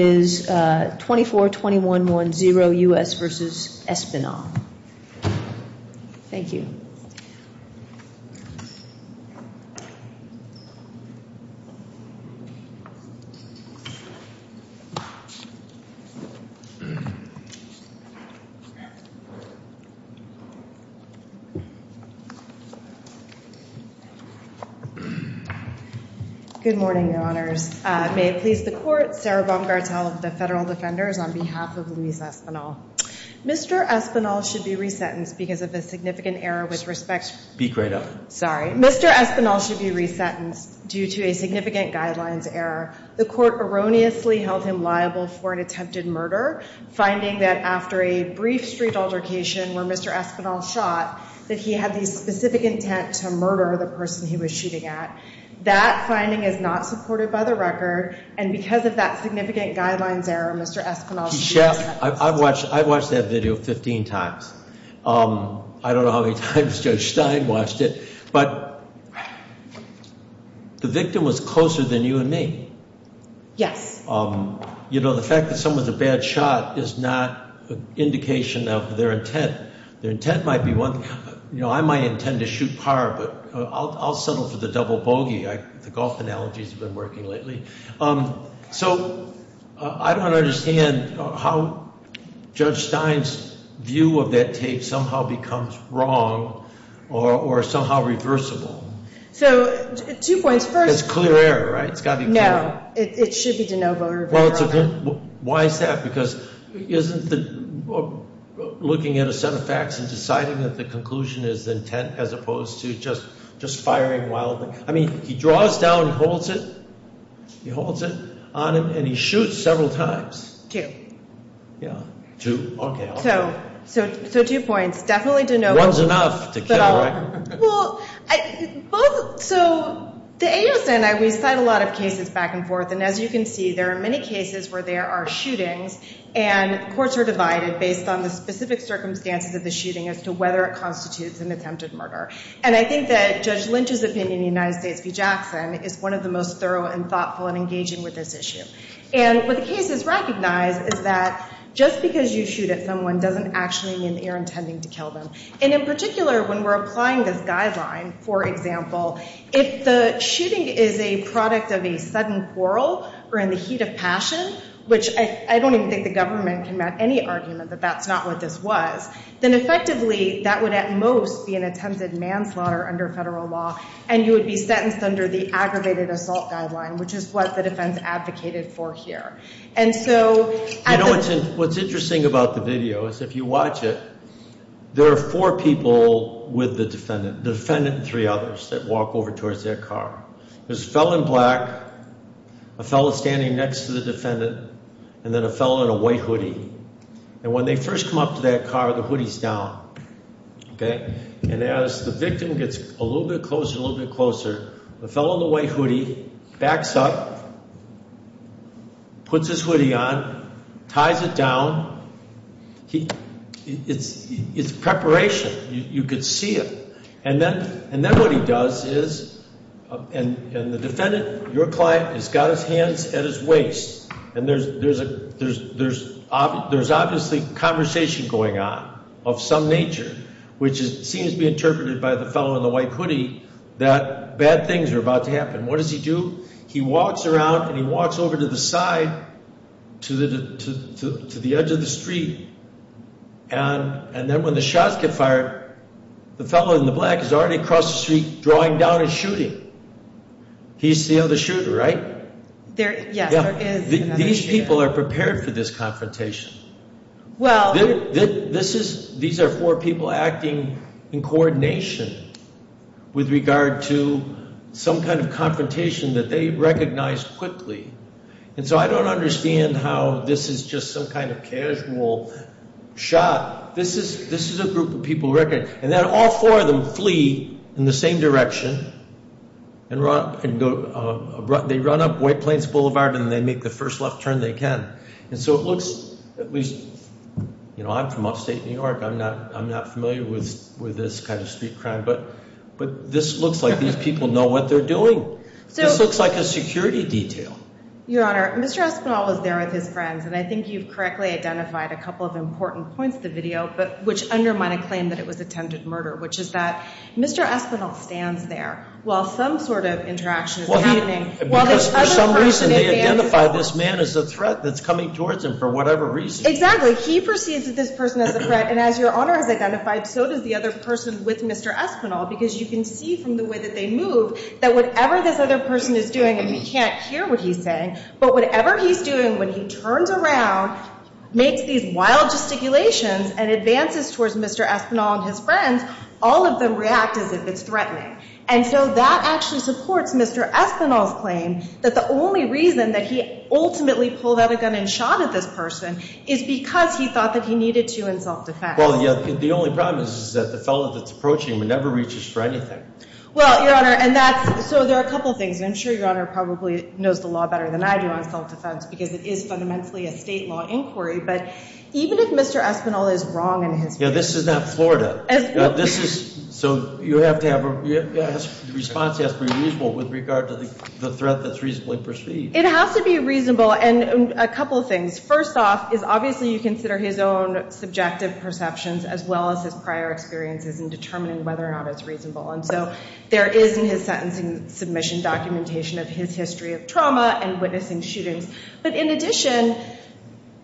is 24-21-1-0 U.S. v. Espinal. Thank you. Good morning, Your Honors. May it please the Court, Sarah Baumgartel of the Federal Defenders on behalf of Luis Espinal. Mr. Espinal should be resentenced because of a significant error with respect to- Speak right up. Sorry. Mr. Espinal should be resentenced due to a significant guidelines error. The Court erroneously held him liable for an attempted murder, finding that after a brief street altercation where Mr. Espinal shot, that he had the specific intent to murder the person he was shooting at. That finding is not supported by the record, and because of that significant guidelines error, Mr. Espinal should be resentenced. I've watched that video 15 times. I don't know how many times Judge Stein watched it. But the victim was closer than you and me. Yes. You know, the fact that someone's a bad shot is not an indication of their intent. Their intent might be one- You know, I might intend to shoot par, but I'll settle for the double bogey. The golf analogy's been working lately. So, I don't understand how Judge Stein's view of that tape somehow becomes wrong or somehow reversible. So, two points. First- It's clear error, right? It's got to be clear error. No. It should be de novo or- Well, why is that? Because isn't looking at a set of facts and deciding that the conclusion is intent as opposed to just firing while- I mean, he draws down and holds it. He holds it on him, and he shoots several times. Two. Yeah. Two. Okay. Okay. So, two points. Definitely de novo. One's enough to kill, right? Well, both- So, the ASN, we cite a lot of cases back and forth, and as you can see, there are many cases where there are shootings and courts are divided based on the specific circumstances of the shooting as to whether it constitutes an attempted murder. And I think that Judge Lynch's opinion in the United States v. Jackson is one of the most thorough and thoughtful and engaging with this issue. And what the case has recognized is that just because you shoot at someone doesn't actually mean that you're intending to kill them. And in particular, when we're applying this guideline, for example, if the shooting is a product of a sudden quarrel or in the heat of passion, which I don't even think the government can make any argument that that's not what this was, then effectively, that would at most be an attempted manslaughter under federal law, and you would be sentenced under the Aggravated Assault Guideline, which is what the defense advocated for here. And so- You know what's interesting about the video is if you watch it, there are four people with the defendant. The defendant and three others that walk over towards their car. There's a fellow in black, a fellow standing next to the defendant, and then a fellow in a white hoodie. And when they first come up to that car, the hoodie's down. Okay? And as the victim gets a little bit closer, a little bit closer, the fellow in the white hoodie backs up, puts his hoodie on, ties it down. It's preparation. You could see it. And then what he does is, and the defendant, your client, has got his hands at his waist, and there's obviously conversation going on of some nature, which seems to be interpreted by the fellow in the white hoodie that bad things are about to happen. What does he do? He walks around and he walks over to the side, to the edge of the street, and then when the shots get fired, the fellow in the black is already across the street drawing down and shooting. He's the other shooter, right? Yes, there is another shooter. These people are prepared for this confrontation. These are four people acting in coordination with regard to some kind of confrontation that they recognize quickly. And so I don't understand how this is just some kind of casual shot. This is a group of people, and then all four of them flee in the same direction, and they run up White Plains Boulevard, and they make the first left turn they can. And so it looks at least, you know, I'm from upstate New York. I'm not familiar with this kind of street crime, but this looks like these people know what they're doing. This looks like a security detail. Your Honor, Mr. Espinel was there with his friends, and I think you've correctly identified a couple of important points of the video, which undermine a claim that it was attempted murder, which is that Mr. Espinel stands there while some sort of interaction is happening. Because for some reason they identify this man as a threat that's coming towards him for whatever reason. Exactly. He perceives this person as a threat, and as Your Honor has identified, so does the other person with Mr. Espinel, because you can see from the way that they move that whatever this other person is doing, and we can't hear what he's saying, but whatever he's doing when he turns around, makes these wild gesticulations, and advances towards Mr. Espinel and his friends, all of them react as if it's threatening. And so that actually supports Mr. Espinel's claim that the only reason that he ultimately pulled out a gun and shot at this person is because he thought that he needed to in self-defense. Well, yeah, the only problem is that the fellow that's approaching him never reaches for anything. Well, Your Honor, and that's, so there are a couple of things, and I'm sure Your Honor probably knows the law better than I do on self-defense, because it is fundamentally a state law inquiry, but even if Mr. Espinel is wrong in his... Yeah, this is not Florida. This is, so you have to have, the response has to be reasonable with regard to the threat that's reasonably perceived. It has to be reasonable, and a couple of things. First off is obviously you consider his own subjective perceptions as well as his prior experiences in determining whether or not it's reasonable, and so there is in his sentencing submission documentation of his history of trauma and witnessing shootings, but in addition,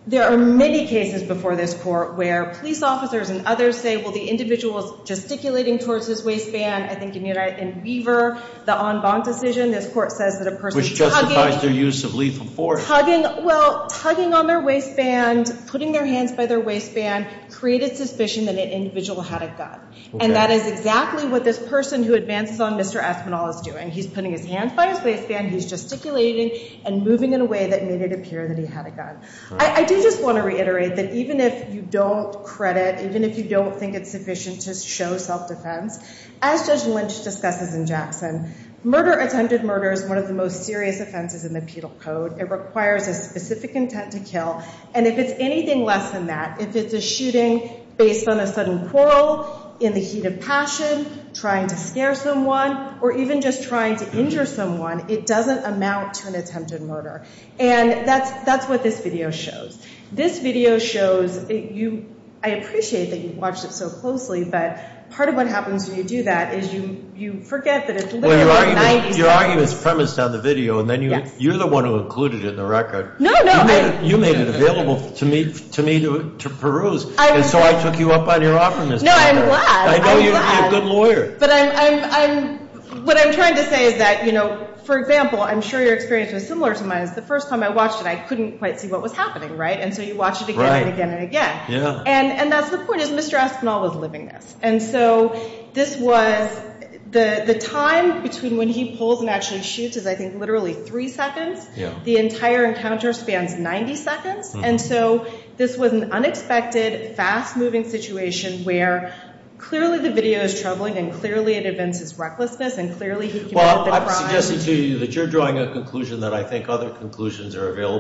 there are many cases before this Court where police officers and others say, well, the individual's gesticulating towards his waistband, I think in Weaver, the en banc decision, this Court says that a person tugging... Which justifies their use of lethal force. Tugging, well, tugging on their waistband, putting their hands by their waistband created suspicion that an individual had a gun, and that is exactly what this person who advances on Mr. Espinel is doing. He's putting his hands by his waistband, he's gesticulating and moving in a way that made it appear that he had a gun. I do just want to reiterate that even if you don't credit, even if you don't think it's sufficient to show self-defense, as Judge Lynch discusses in Jackson, murder, attempted murder, is one of the most serious offenses in the penal code. It requires a specific intent to kill, and if it's anything less than that, if it's a shooting based on a sudden quarrel, in the heat of passion, trying to scare someone, or even just trying to injure someone, it doesn't amount to an attempted murder. And that's what this video shows. This video shows you... I appreciate that you've watched it so closely, but part of what happens when you do that is you forget that it's literally 90 seconds. Your argument is premised on the video, and then you're the one who included it in the record. No, no. You made it available to me to peruse, and so I took you up on your offer. No, I'm glad. I'm glad. I know you'd be a good lawyer. But what I'm trying to say is that, you know, for example, I'm sure your experience was similar to mine. It's the first time I watched it, I couldn't quite see what was happening, right? And so you watch it again and again and again. And that's the point, is Mr. Espinel was living this. And so this was the time between when he pulls and actually shoots is, I think, literally three seconds. The entire encounter spans 90 seconds, and so this was an unexpected, fast-moving situation where clearly the video is troubling, and clearly it evinces recklessness, and clearly he came up with a crime. Well, I'm suggesting to you that you're drawing a conclusion that I think other conclusions are available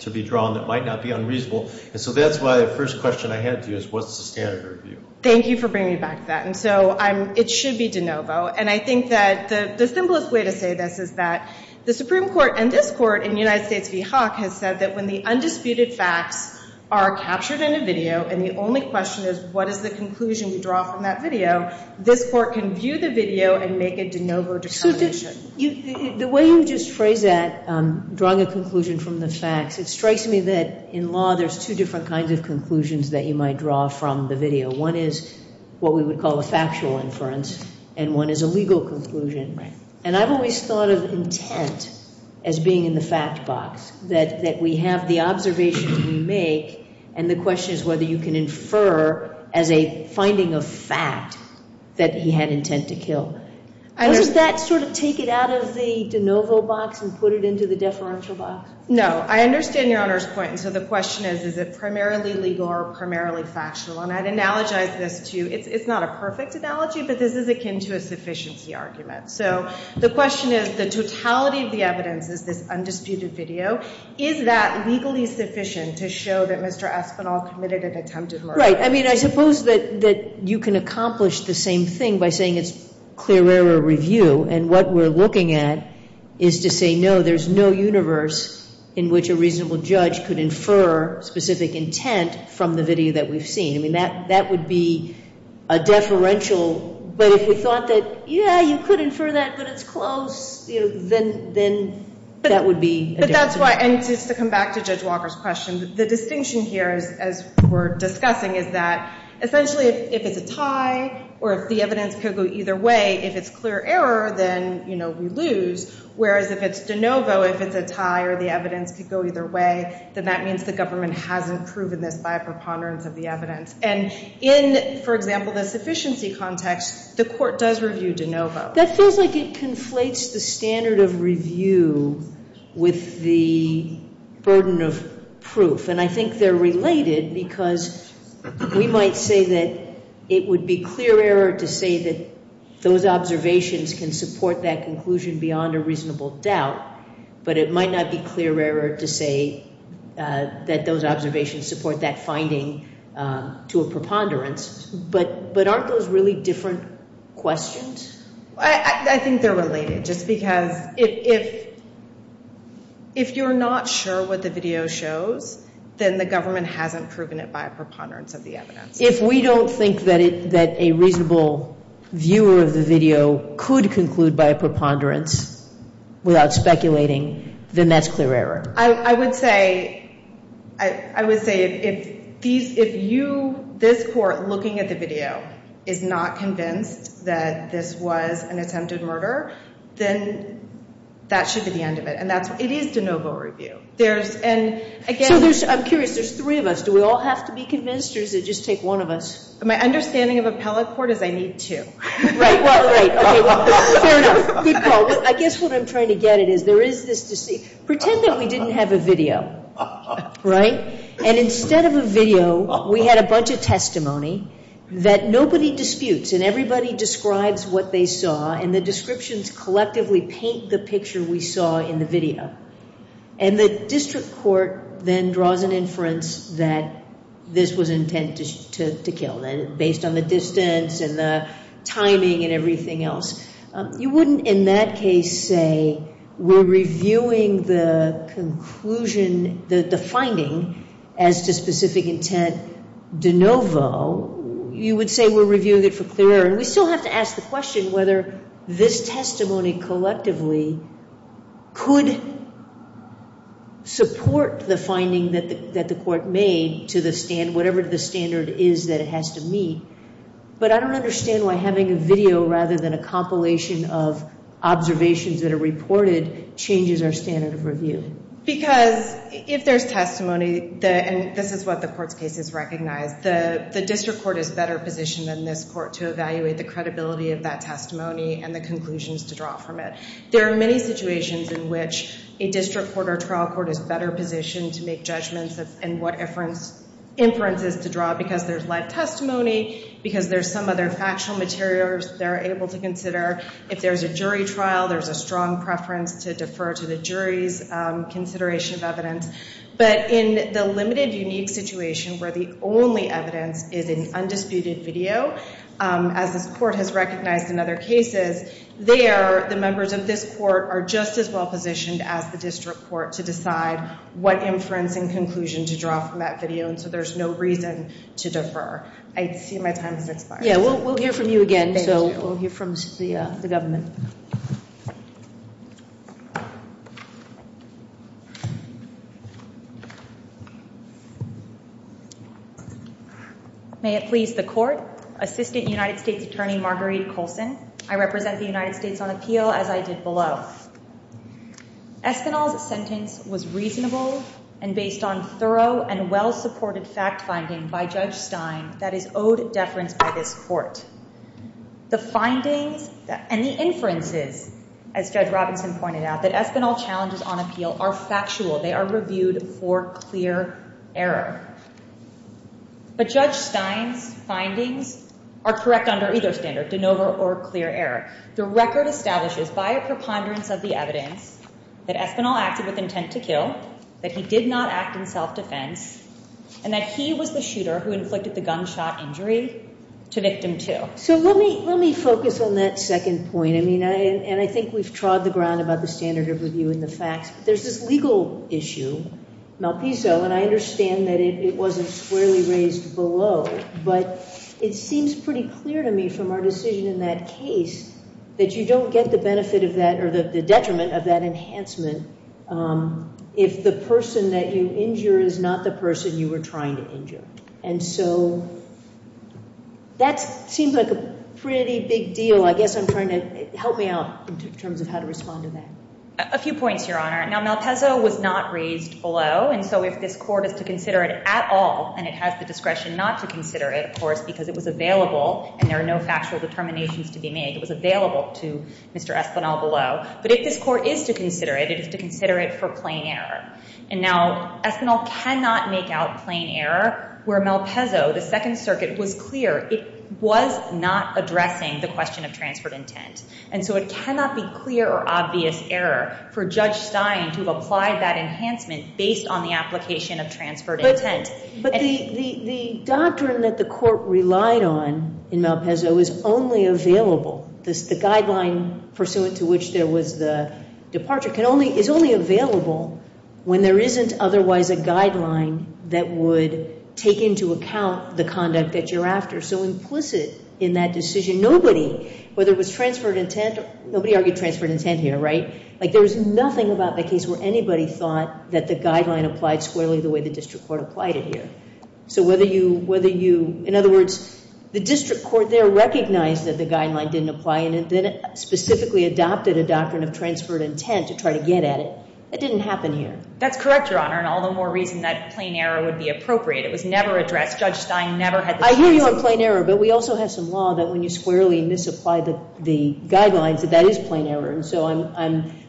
to be drawn that might not be unreasonable. And so that's why the first question I had to you is what's the standard of review? Thank you for bringing me back to that. And so it should be de novo, and I think that the simplest way to say this is that the Supreme Court and this Court in the United States v. Hawk has said that when the undisputed facts are captured in a video and the only question is what is the conclusion we draw from that video, this Court can view the video and make a de novo determination. The way you just phrased that, drawing a conclusion from the facts, it strikes me that in law there's two different kinds of conclusions that you might draw from the video. One is what we would call a factual inference, and one is a legal conclusion. And I've always thought of intent as being in the fact box, that we have the observation we make, and the question is whether you can infer as a finding of fact that he had intent to kill. Does that sort of take it out of the de novo box and put it into the deferential box? No. I understand Your Honor's point. And so the question is, is it primarily legal or primarily factual? And I'd analogize this to you. It's not a perfect analogy, but this is akin to a sufficiency argument. So the question is the totality of the evidence is this undisputed video. Is that legally sufficient to show that Mr. Espinol committed an attempted murder? I mean, I suppose that you can accomplish the same thing by saying it's clear error review, and what we're looking at is to say, no, there's no universe in which a reasonable judge could infer specific intent from the video that we've seen. I mean, that would be a deferential. But if we thought that, yeah, you could infer that, but it's close, then that would be a deferential. And just to come back to Judge Walker's question, the distinction here, as we're discussing, is that essentially if it's a tie or if the evidence could go either way, if it's clear error, then we lose. Whereas if it's de novo, if it's a tie or the evidence could go either way, then that means the government hasn't proven this by a preponderance of the evidence. And in, for example, the sufficiency context, the court does review de novo. That feels like it conflates the standard of review with the burden of proof. And I think they're related because we might say that it would be clear error to say that those observations can support that conclusion beyond a reasonable doubt, but it might not be clear error to say that those observations support that finding to a preponderance. But aren't those really different questions? I think they're related just because if you're not sure what the video shows, then the government hasn't proven it by a preponderance of the evidence. If we don't think that a reasonable viewer of the video could conclude by a preponderance without speculating, then that's clear error. I would say if this court looking at the video is not convinced that this was an attempted murder, then that should be the end of it. And it is de novo review. So I'm curious. There's three of us. Do we all have to be convinced or does it just take one of us? My understanding of appellate court is I need two. Right. Fair enough. Good call. I guess what I'm trying to get at is there is this deceit. Pretend that we didn't have a video, right? And instead of a video, we had a bunch of testimony that nobody disputes and everybody describes what they saw, and the descriptions collectively paint the picture we saw in the video. And the district court then draws an inference that this was intended to kill, based on the distance and the timing and everything else. You wouldn't in that case say we're reviewing the conclusion, the finding, as to specific intent de novo. You would say we're reviewing it for clear error. And we still have to ask the question whether this testimony collectively could support the finding that the court made to the standard, whatever the standard is that it has to meet. But I don't understand why having a video rather than a compilation of observations that are reported changes our standard of review. Because if there's testimony, and this is what the court's case has recognized, the district court is better positioned than this court to evaluate the credibility of that testimony and the conclusions to draw from it. There are many situations in which a district court or trial court is better positioned to make judgments and what inferences to draw because there's live testimony, because there's some other factual materials they're able to consider. If there's a jury trial, there's a strong preference to defer to the jury's consideration of evidence. But in the limited unique situation where the only evidence is an undisputed video, as this court has recognized in other cases, there the members of this court are just as well positioned as the district court to decide what inference and conclusion to draw from that video. And so there's no reason to defer. I see my time has expired. Yeah, we'll hear from you again. So we'll hear from the government. May it please the court. Assistant United States Attorney Marguerite Colson. I represent the United States on appeal as I did below. Espinal's sentence was reasonable and based on thorough and well-supported fact finding by Judge Stein that is owed deference by this court. The findings and the inferences, as Judge Robinson pointed out, that Espinal challenges on appeal are factual. They are reviewed for clear error. But Judge Stein's findings are correct under either standard, de novo or clear error. The record establishes by a preponderance of the evidence that Espinal acted with intent to kill, that he did not act in self-defense, and that he was the shooter who inflicted the gunshot injury to victim two. So let me focus on that second point. I mean, and I think we've trod the ground about the standard of review and the facts. There's this legal issue, Malpiso, and I understand that it wasn't squarely raised below. But it seems pretty clear to me from our decision in that case that you don't get the benefit of that or the detriment of that enhancement if the person that you injure is not the person you were trying to injure. And so that seems like a pretty big deal. I guess I'm trying to help me out in terms of how to respond to that. A few points, Your Honor. Now, Malpiso was not raised below. And so if this Court is to consider it at all, and it has the discretion not to consider it, of course, because it was available and there are no factual determinations to be made. It was available to Mr. Espinal below. But if this Court is to consider it, it is to consider it for plain error. And now Espinal cannot make out plain error where Malpiso, the Second Circuit, was clear. It was not addressing the question of transferred intent. And so it cannot be clear or obvious error for Judge Stein to have applied that enhancement based on the application of transferred intent. But the doctrine that the Court relied on in Malpiso is only available. The guideline pursuant to which there was the departure is only available when there isn't otherwise a guideline that would take into account the conduct that you're after. So implicit in that decision, nobody, whether it was transferred intent, nobody argued transferred intent here, right? Like there was nothing about the case where anybody thought that the guideline applied squarely the way the district court applied it here. So whether you, in other words, the district court there recognized that the guideline didn't apply and then specifically adopted a doctrine of transferred intent to try to get at it. That didn't happen here. That's correct, Your Honor. And all the more reason that plain error would be appropriate. It was never addressed. Judge Stein never had this reason. I hear you on plain error, but we also have some law that when you squarely misapply the guidelines that that is plain error. And so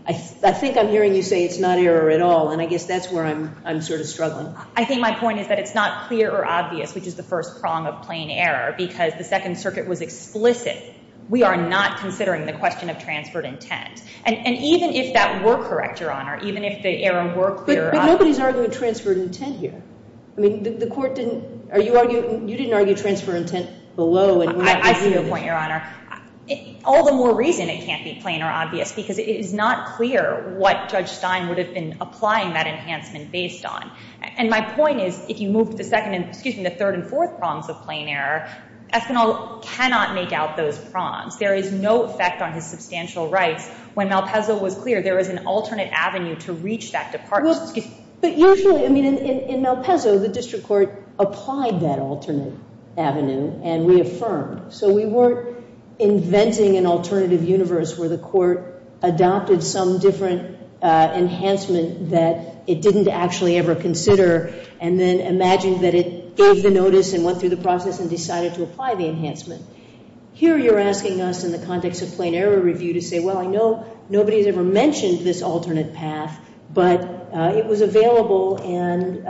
I think I'm hearing you say it's not error at all, and I guess that's where I'm sort of struggling. I think my point is that it's not clear or obvious, which is the first prong of plain error, because the Second Circuit was explicit. We are not considering the question of transferred intent. And even if that were correct, Your Honor, even if the error were clear or obvious. But nobody's arguing transferred intent here. I mean, the court didn't, you didn't argue transferred intent below. I see your point, Your Honor. All the more reason it can't be plain or obvious because it is not clear what Judge Stein would have been applying that enhancement based on. And my point is if you move to the second, excuse me, the third and fourth prongs of plain error, Espinel cannot make out those prongs. There is no effect on his substantial rights when Malpezzo was clear there was an alternate avenue to reach that department. But usually, I mean, in Malpezzo, the district court applied that alternate avenue and reaffirmed. So we weren't inventing an alternative universe where the court adopted some different enhancement that it didn't actually ever consider and then imagined that it gave the notice and went through the process and decided to apply the enhancement. Here you're asking us in the context of plain error review to say, well, I know nobody has ever mentioned this alternate path, but it was available and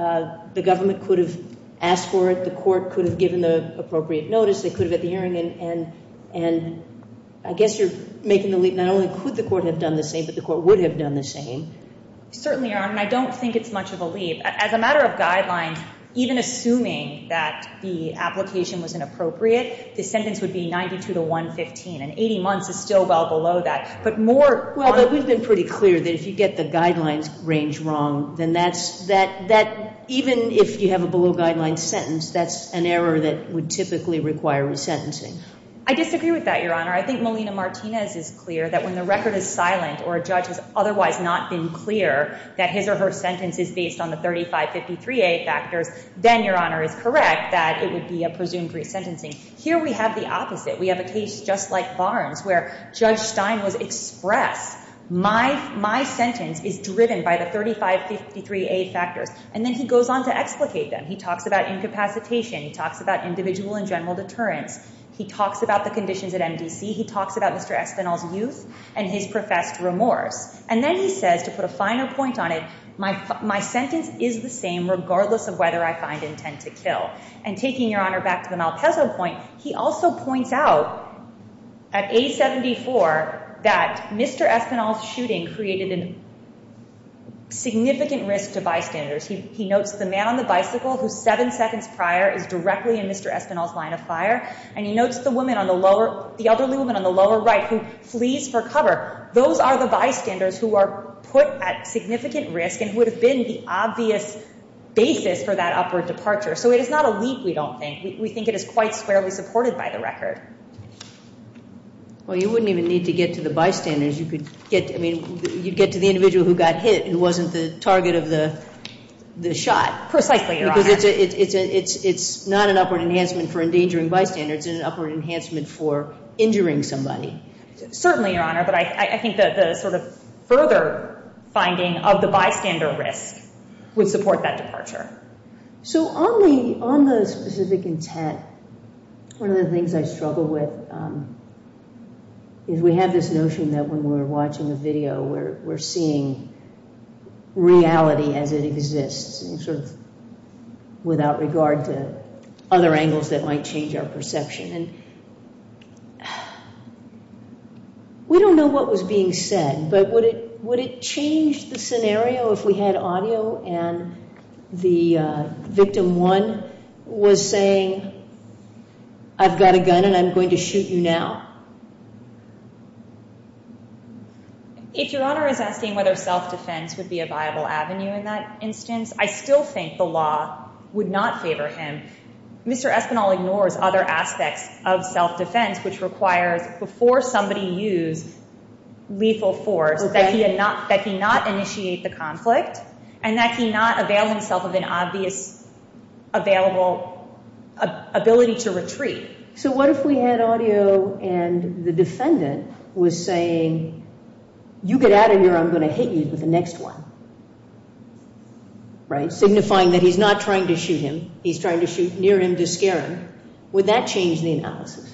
the government could have asked for it, the court could have given the appropriate notice, they could have had the hearing, and I guess you're making the leap. Not only could the court have done the same, but the court would have done the same. Certainly, Your Honor, and I don't think it's much of a leap. As a matter of guidelines, even assuming that the application was inappropriate, the sentence would be 92 to 115, and 80 months is still well below that. But more... Well, we've been pretty clear that if you get the guidelines range wrong, then even if you have a below-guidelines sentence, that's an error that would typically require resentencing. I disagree with that, Your Honor. I think Melina Martinez is clear that when the record is silent or a judge has otherwise not been clear that his or her sentence is based on the 3553A factors, then Your Honor is correct that it would be a presumed resentencing. Here we have the opposite. We have a case just like Barnes where Judge Stein was expressed, my sentence is driven by the 3553A factors. And then he goes on to explicate them. He talks about incapacitation. He talks about individual and general deterrence. He talks about the conditions at MDC. He talks about Mr. Espinal's youth and his professed remorse. And then he says, to put a finer point on it, my sentence is the same regardless of whether I find intent to kill. And taking Your Honor back to the Malpezzo point, he also points out at A74 that Mr. Espinal's shooting created a significant risk to bystanders. He notes the man on the bicycle who, seven seconds prior, is directly in Mr. Espinal's line of fire, and he notes the elderly woman on the lower right who flees for cover. Those are the bystanders who are put at significant risk and would have been the obvious basis for that upward departure. So it is not a leap, we don't think. We think it is quite squarely supported by the record. Well, you wouldn't even need to get to the bystanders. I mean, you'd get to the individual who got hit and wasn't the target of the shot. Precisely, Your Honor. Because it's not an upward enhancement for endangering bystanders. It's an upward enhancement for injuring somebody. Certainly, Your Honor, but I think the sort of further finding of the bystander risk would support that departure. So on the specific intent, one of the things I struggle with is we have this notion that when we're watching a video, we're seeing reality as it exists, sort of without regard to other angles that might change our perception. And we don't know what was being said, but would it change the scenario if we had audio and the victim one was saying, I've got a gun and I'm going to shoot you now? If Your Honor is asking whether self-defense would be a viable avenue in that instance, I still think the law would not favor him. Mr. Espinel ignores other aspects of self-defense, which requires before somebody used lethal force, that he not initiate the conflict and that he not avail himself of an obvious available ability to retreat. So what if we had audio and the defendant was saying, you get out of here or I'm going to hit you with the next one, right? Signifying that he's not trying to shoot him. He's trying to shoot near him to scare him. Would that change the analysis?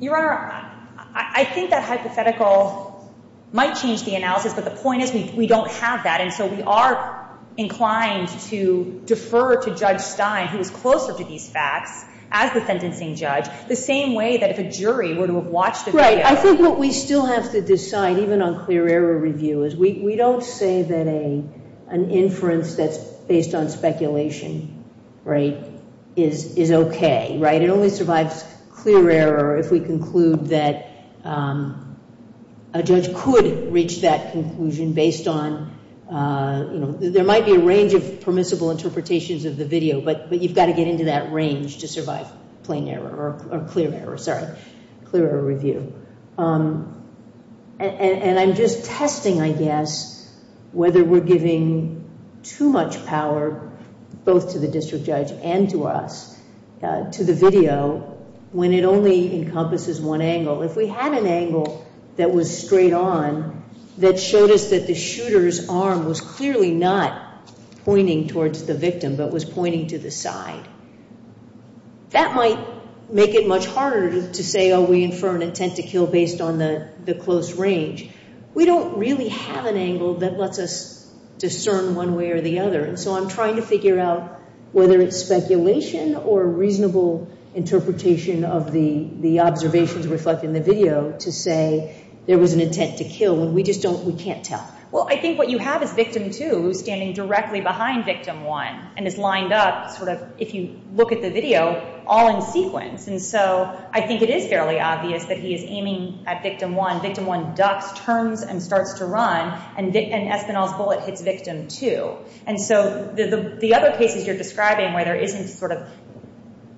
Your Honor, I think that hypothetical might change the analysis, but the point is we don't have that. And so we are inclined to defer to Judge Stein, who is closer to these facts as the sentencing judge, the same way that if a jury were to have watched the video. Right. I think what we still have to decide, even on clear error review, is we don't say that an inference that's based on speculation, right, is okay, right? It only survives clear error if we conclude that a judge could reach that conclusion based on, you know, there might be a range of permissible interpretations of the video, but you've got to get into that range to survive plain error or clear error, sorry, clear error review. And I'm just testing, I guess, whether we're giving too much power, both to the district judge and to us, to the video when it only encompasses one angle. If we had an angle that was straight on, that showed us that the shooter's arm was clearly not pointing towards the victim, but was pointing to the side, that might make it much harder to say, oh, we infer an intent to kill based on the close range. We don't really have an angle that lets us discern one way or the other, and so I'm trying to figure out whether it's speculation or reasonable interpretation of the observations reflected in the video to say there was an intent to kill, and we just don't, we can't tell. Well, I think what you have is victim two standing directly behind victim one, and is lined up, sort of, if you look at the video, all in sequence, and so I think it is fairly obvious that he is aiming at victim one. Victim one ducks, turns, and starts to run, and Espinel's bullet hits victim two. And so the other cases you're describing where there isn't, sort of,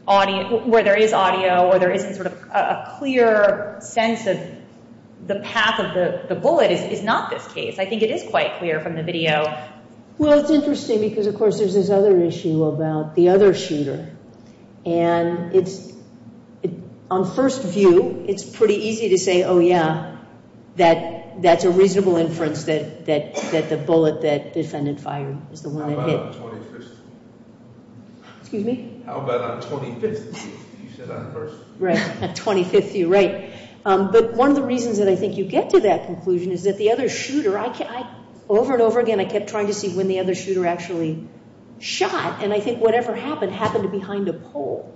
audio, where there is audio or there isn't, sort of, a clear sense of the path of the bullet is not this case. I think it is quite clear from the video. Well, it's interesting because, of course, there's this other issue about the other shooter, and it's, on first view, it's pretty easy to say, oh, yeah, that that's a reasonable inference that the bullet that defendant fired is the one that hit. How about on 25th? Excuse me? How about on 25th? You said on first view. Right, on 25th view, right. But one of the reasons that I think you get to that conclusion is that the other shooter, over and over again, I kept trying to see when the other shooter actually shot, and I think whatever happened happened behind a pole.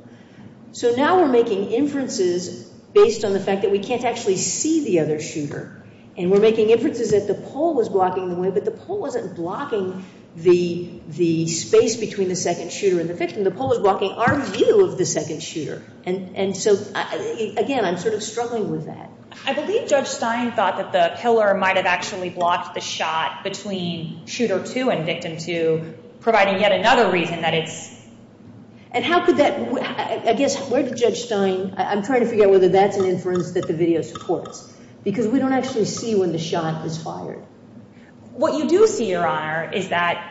So now we're making inferences based on the fact that we can't actually see the other shooter, and we're making inferences that the pole was blocking the way, but the pole wasn't blocking the space between the second shooter and the victim. The pole was blocking our view of the second shooter. And so, again, I'm sort of struggling with that. I believe Judge Stein thought that the pillar might have actually blocked the shot between shooter two and victim two, providing yet another reason that it's. And how could that, I guess, where did Judge Stein, I'm trying to figure out whether that's an inference that the video supports, because we don't actually see when the shot was fired. What you do see, Your Honor, is that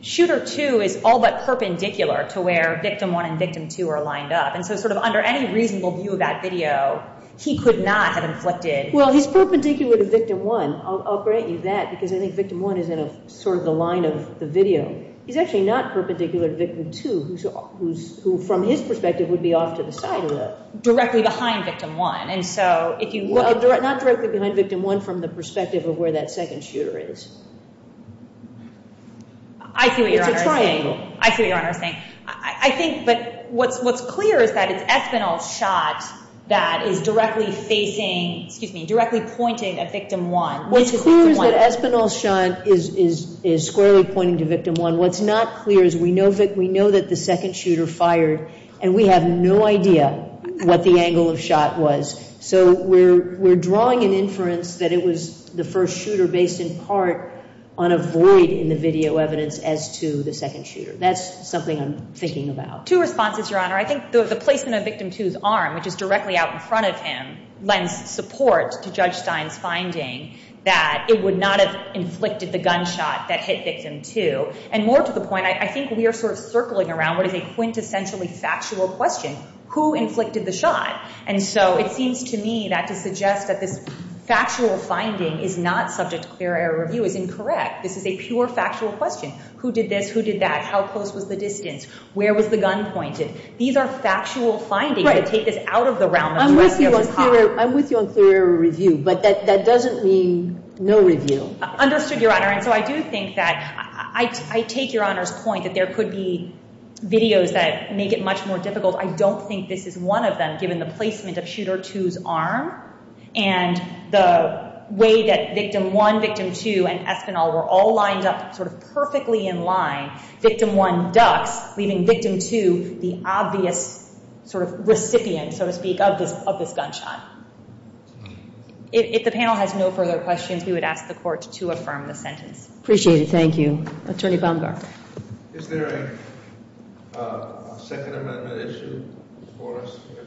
shooter two is all but perpendicular to where victim one and victim two are lined up. And so sort of under any reasonable view of that video, he could not have inflicted. Well, he's perpendicular to victim one. I'll grant you that, because I think victim one is in sort of the line of the video. He's actually not perpendicular to victim two, who from his perspective would be off to the side of that. Directly behind victim one. And so if you look at... Well, not directly behind victim one from the perspective of where that second shooter is. I see what Your Honor is saying. It's a triangle. I see what Your Honor is saying. I think, but what's clear is that it's Espinal's shot that is directly facing, excuse me, directly pointed at victim one. What's clear is that Espinal's shot is squarely pointing to victim one. What's not clear is we know that the second shooter fired, and we have no idea what the angle of shot was. So we're drawing an inference that it was the first shooter based in part on a void in the video evidence as to the second shooter. That's something I'm thinking about. Two responses, Your Honor. I think the placement of victim two's arm, which is directly out in front of him, lends support to Judge Stein's finding that it would not have inflicted the gunshot that hit victim two. And more to the point, I think we are sort of circling around what is a quintessentially factual question. Who inflicted the shot? And so it seems to me that to suggest that this factual finding is not subject to clear error review is incorrect. This is a pure factual question. Who did this? Who did that? How close was the distance? Where was the gun pointed? These are factual findings that take this out of the realm of direct evidence. I'm with you on clear error review, but that doesn't mean no review. Understood, Your Honor. And so I do think that I take Your Honor's point that there could be videos that make it much more difficult. I don't think this is one of them, given the placement of shooter two's arm and the way that victim one, victim two, and Espinal were all lined up sort of perfectly in line, victim one ducks, leaving victim two the obvious sort of recipient, so to speak, of this gunshot. If the panel has no further questions, we would ask the court to affirm the sentence. Appreciate it. Thank you. Attorney Baumgartner. Is there a second amendment issue for us here?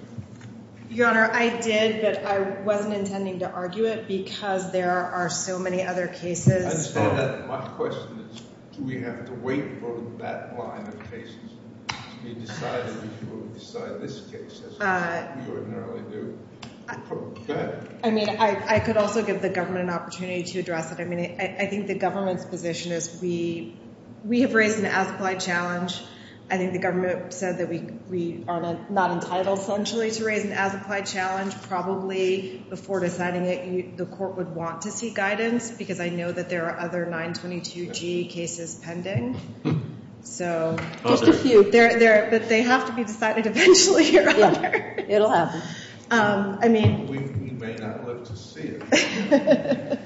Your Honor, I did, but I wasn't intending to argue it because there are so many other cases. I understand that. My question is, do we have to wait for that line of cases to be decided before we decide this case, as we ordinarily do? Go ahead. I mean, I could also give the government an opportunity to address it. I mean, I think the government's position is we have raised an as-applied challenge. I think the government said that we are not entitled, essentially, to raise an as-applied challenge. Probably before deciding it, the court would want to seek guidance because I know that there are other 922G cases pending. Just a few. But they have to be decided eventually, Your Honor. It will happen. We may not live to see it.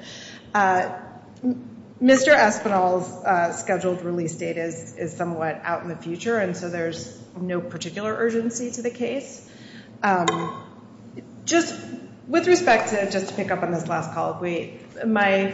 Mr. Espinel's scheduled release date is somewhat out in the future, and so there's no particular urgency to the case. Just with respect to, just to pick up on this last call of weight, my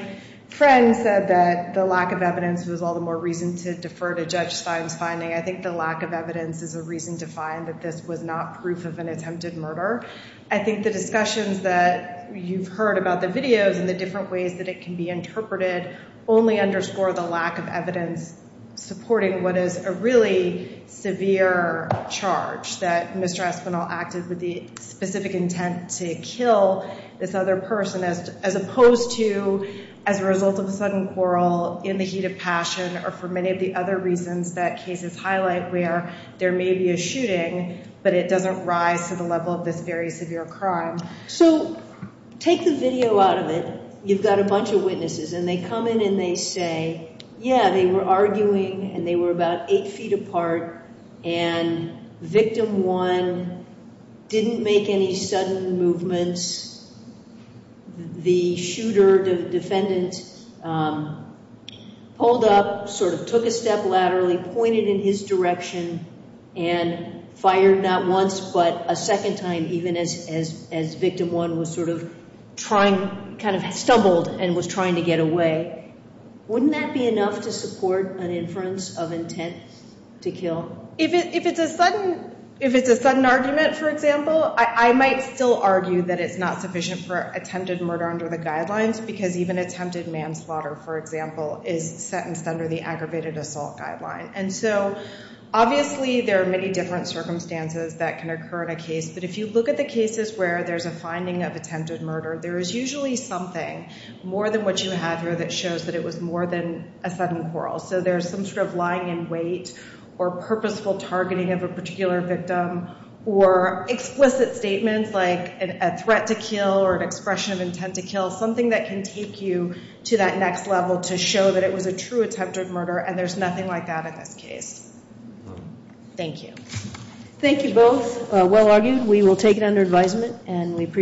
friend said that the lack of evidence was all the more reason to defer to Judge Stein's finding. I think the lack of evidence is a reason to find that this was not proof of an attempted murder. I think the discussions that you've heard about the videos and the different ways that it can be interpreted only underscore the lack of evidence supporting what is a really severe charge that Mr. Espinel acted with the specific intent to kill this other person as opposed to as a result of a sudden quarrel in the heat of passion or for many of the other reasons that cases highlight where there may be a shooting, but it doesn't rise to the level of this very severe crime. So take the video out of it. You've got a bunch of witnesses, and they come in and they say, yeah, they were arguing, and they were about eight feet apart, and victim one didn't make any sudden movements. The shooter defendant pulled up, sort of took a step laterally, pointed in his direction, and fired not once but a second time even as victim one was sort of trying, kind of stumbled and was trying to get away. Wouldn't that be enough to support an inference of intent to kill? If it's a sudden argument, for example, I might still argue that it's not sufficient for attempted murder under the guidelines because even attempted manslaughter, for example, is sentenced under the aggravated assault guideline. And so obviously there are many different circumstances that can occur in a case, but if you look at the cases where there's a finding of attempted murder, there is usually something more than what you have here that shows that it was more than a sudden quarrel. So there's some sort of lying in wait or purposeful targeting of a particular victim or explicit statements like a threat to kill or an expression of intent to kill, something that can take you to that next level to show that it was a true attempted murder, and there's nothing like that in this case. Thank you. Thank you both. Well argued. We will take it under advisement, and we appreciate it.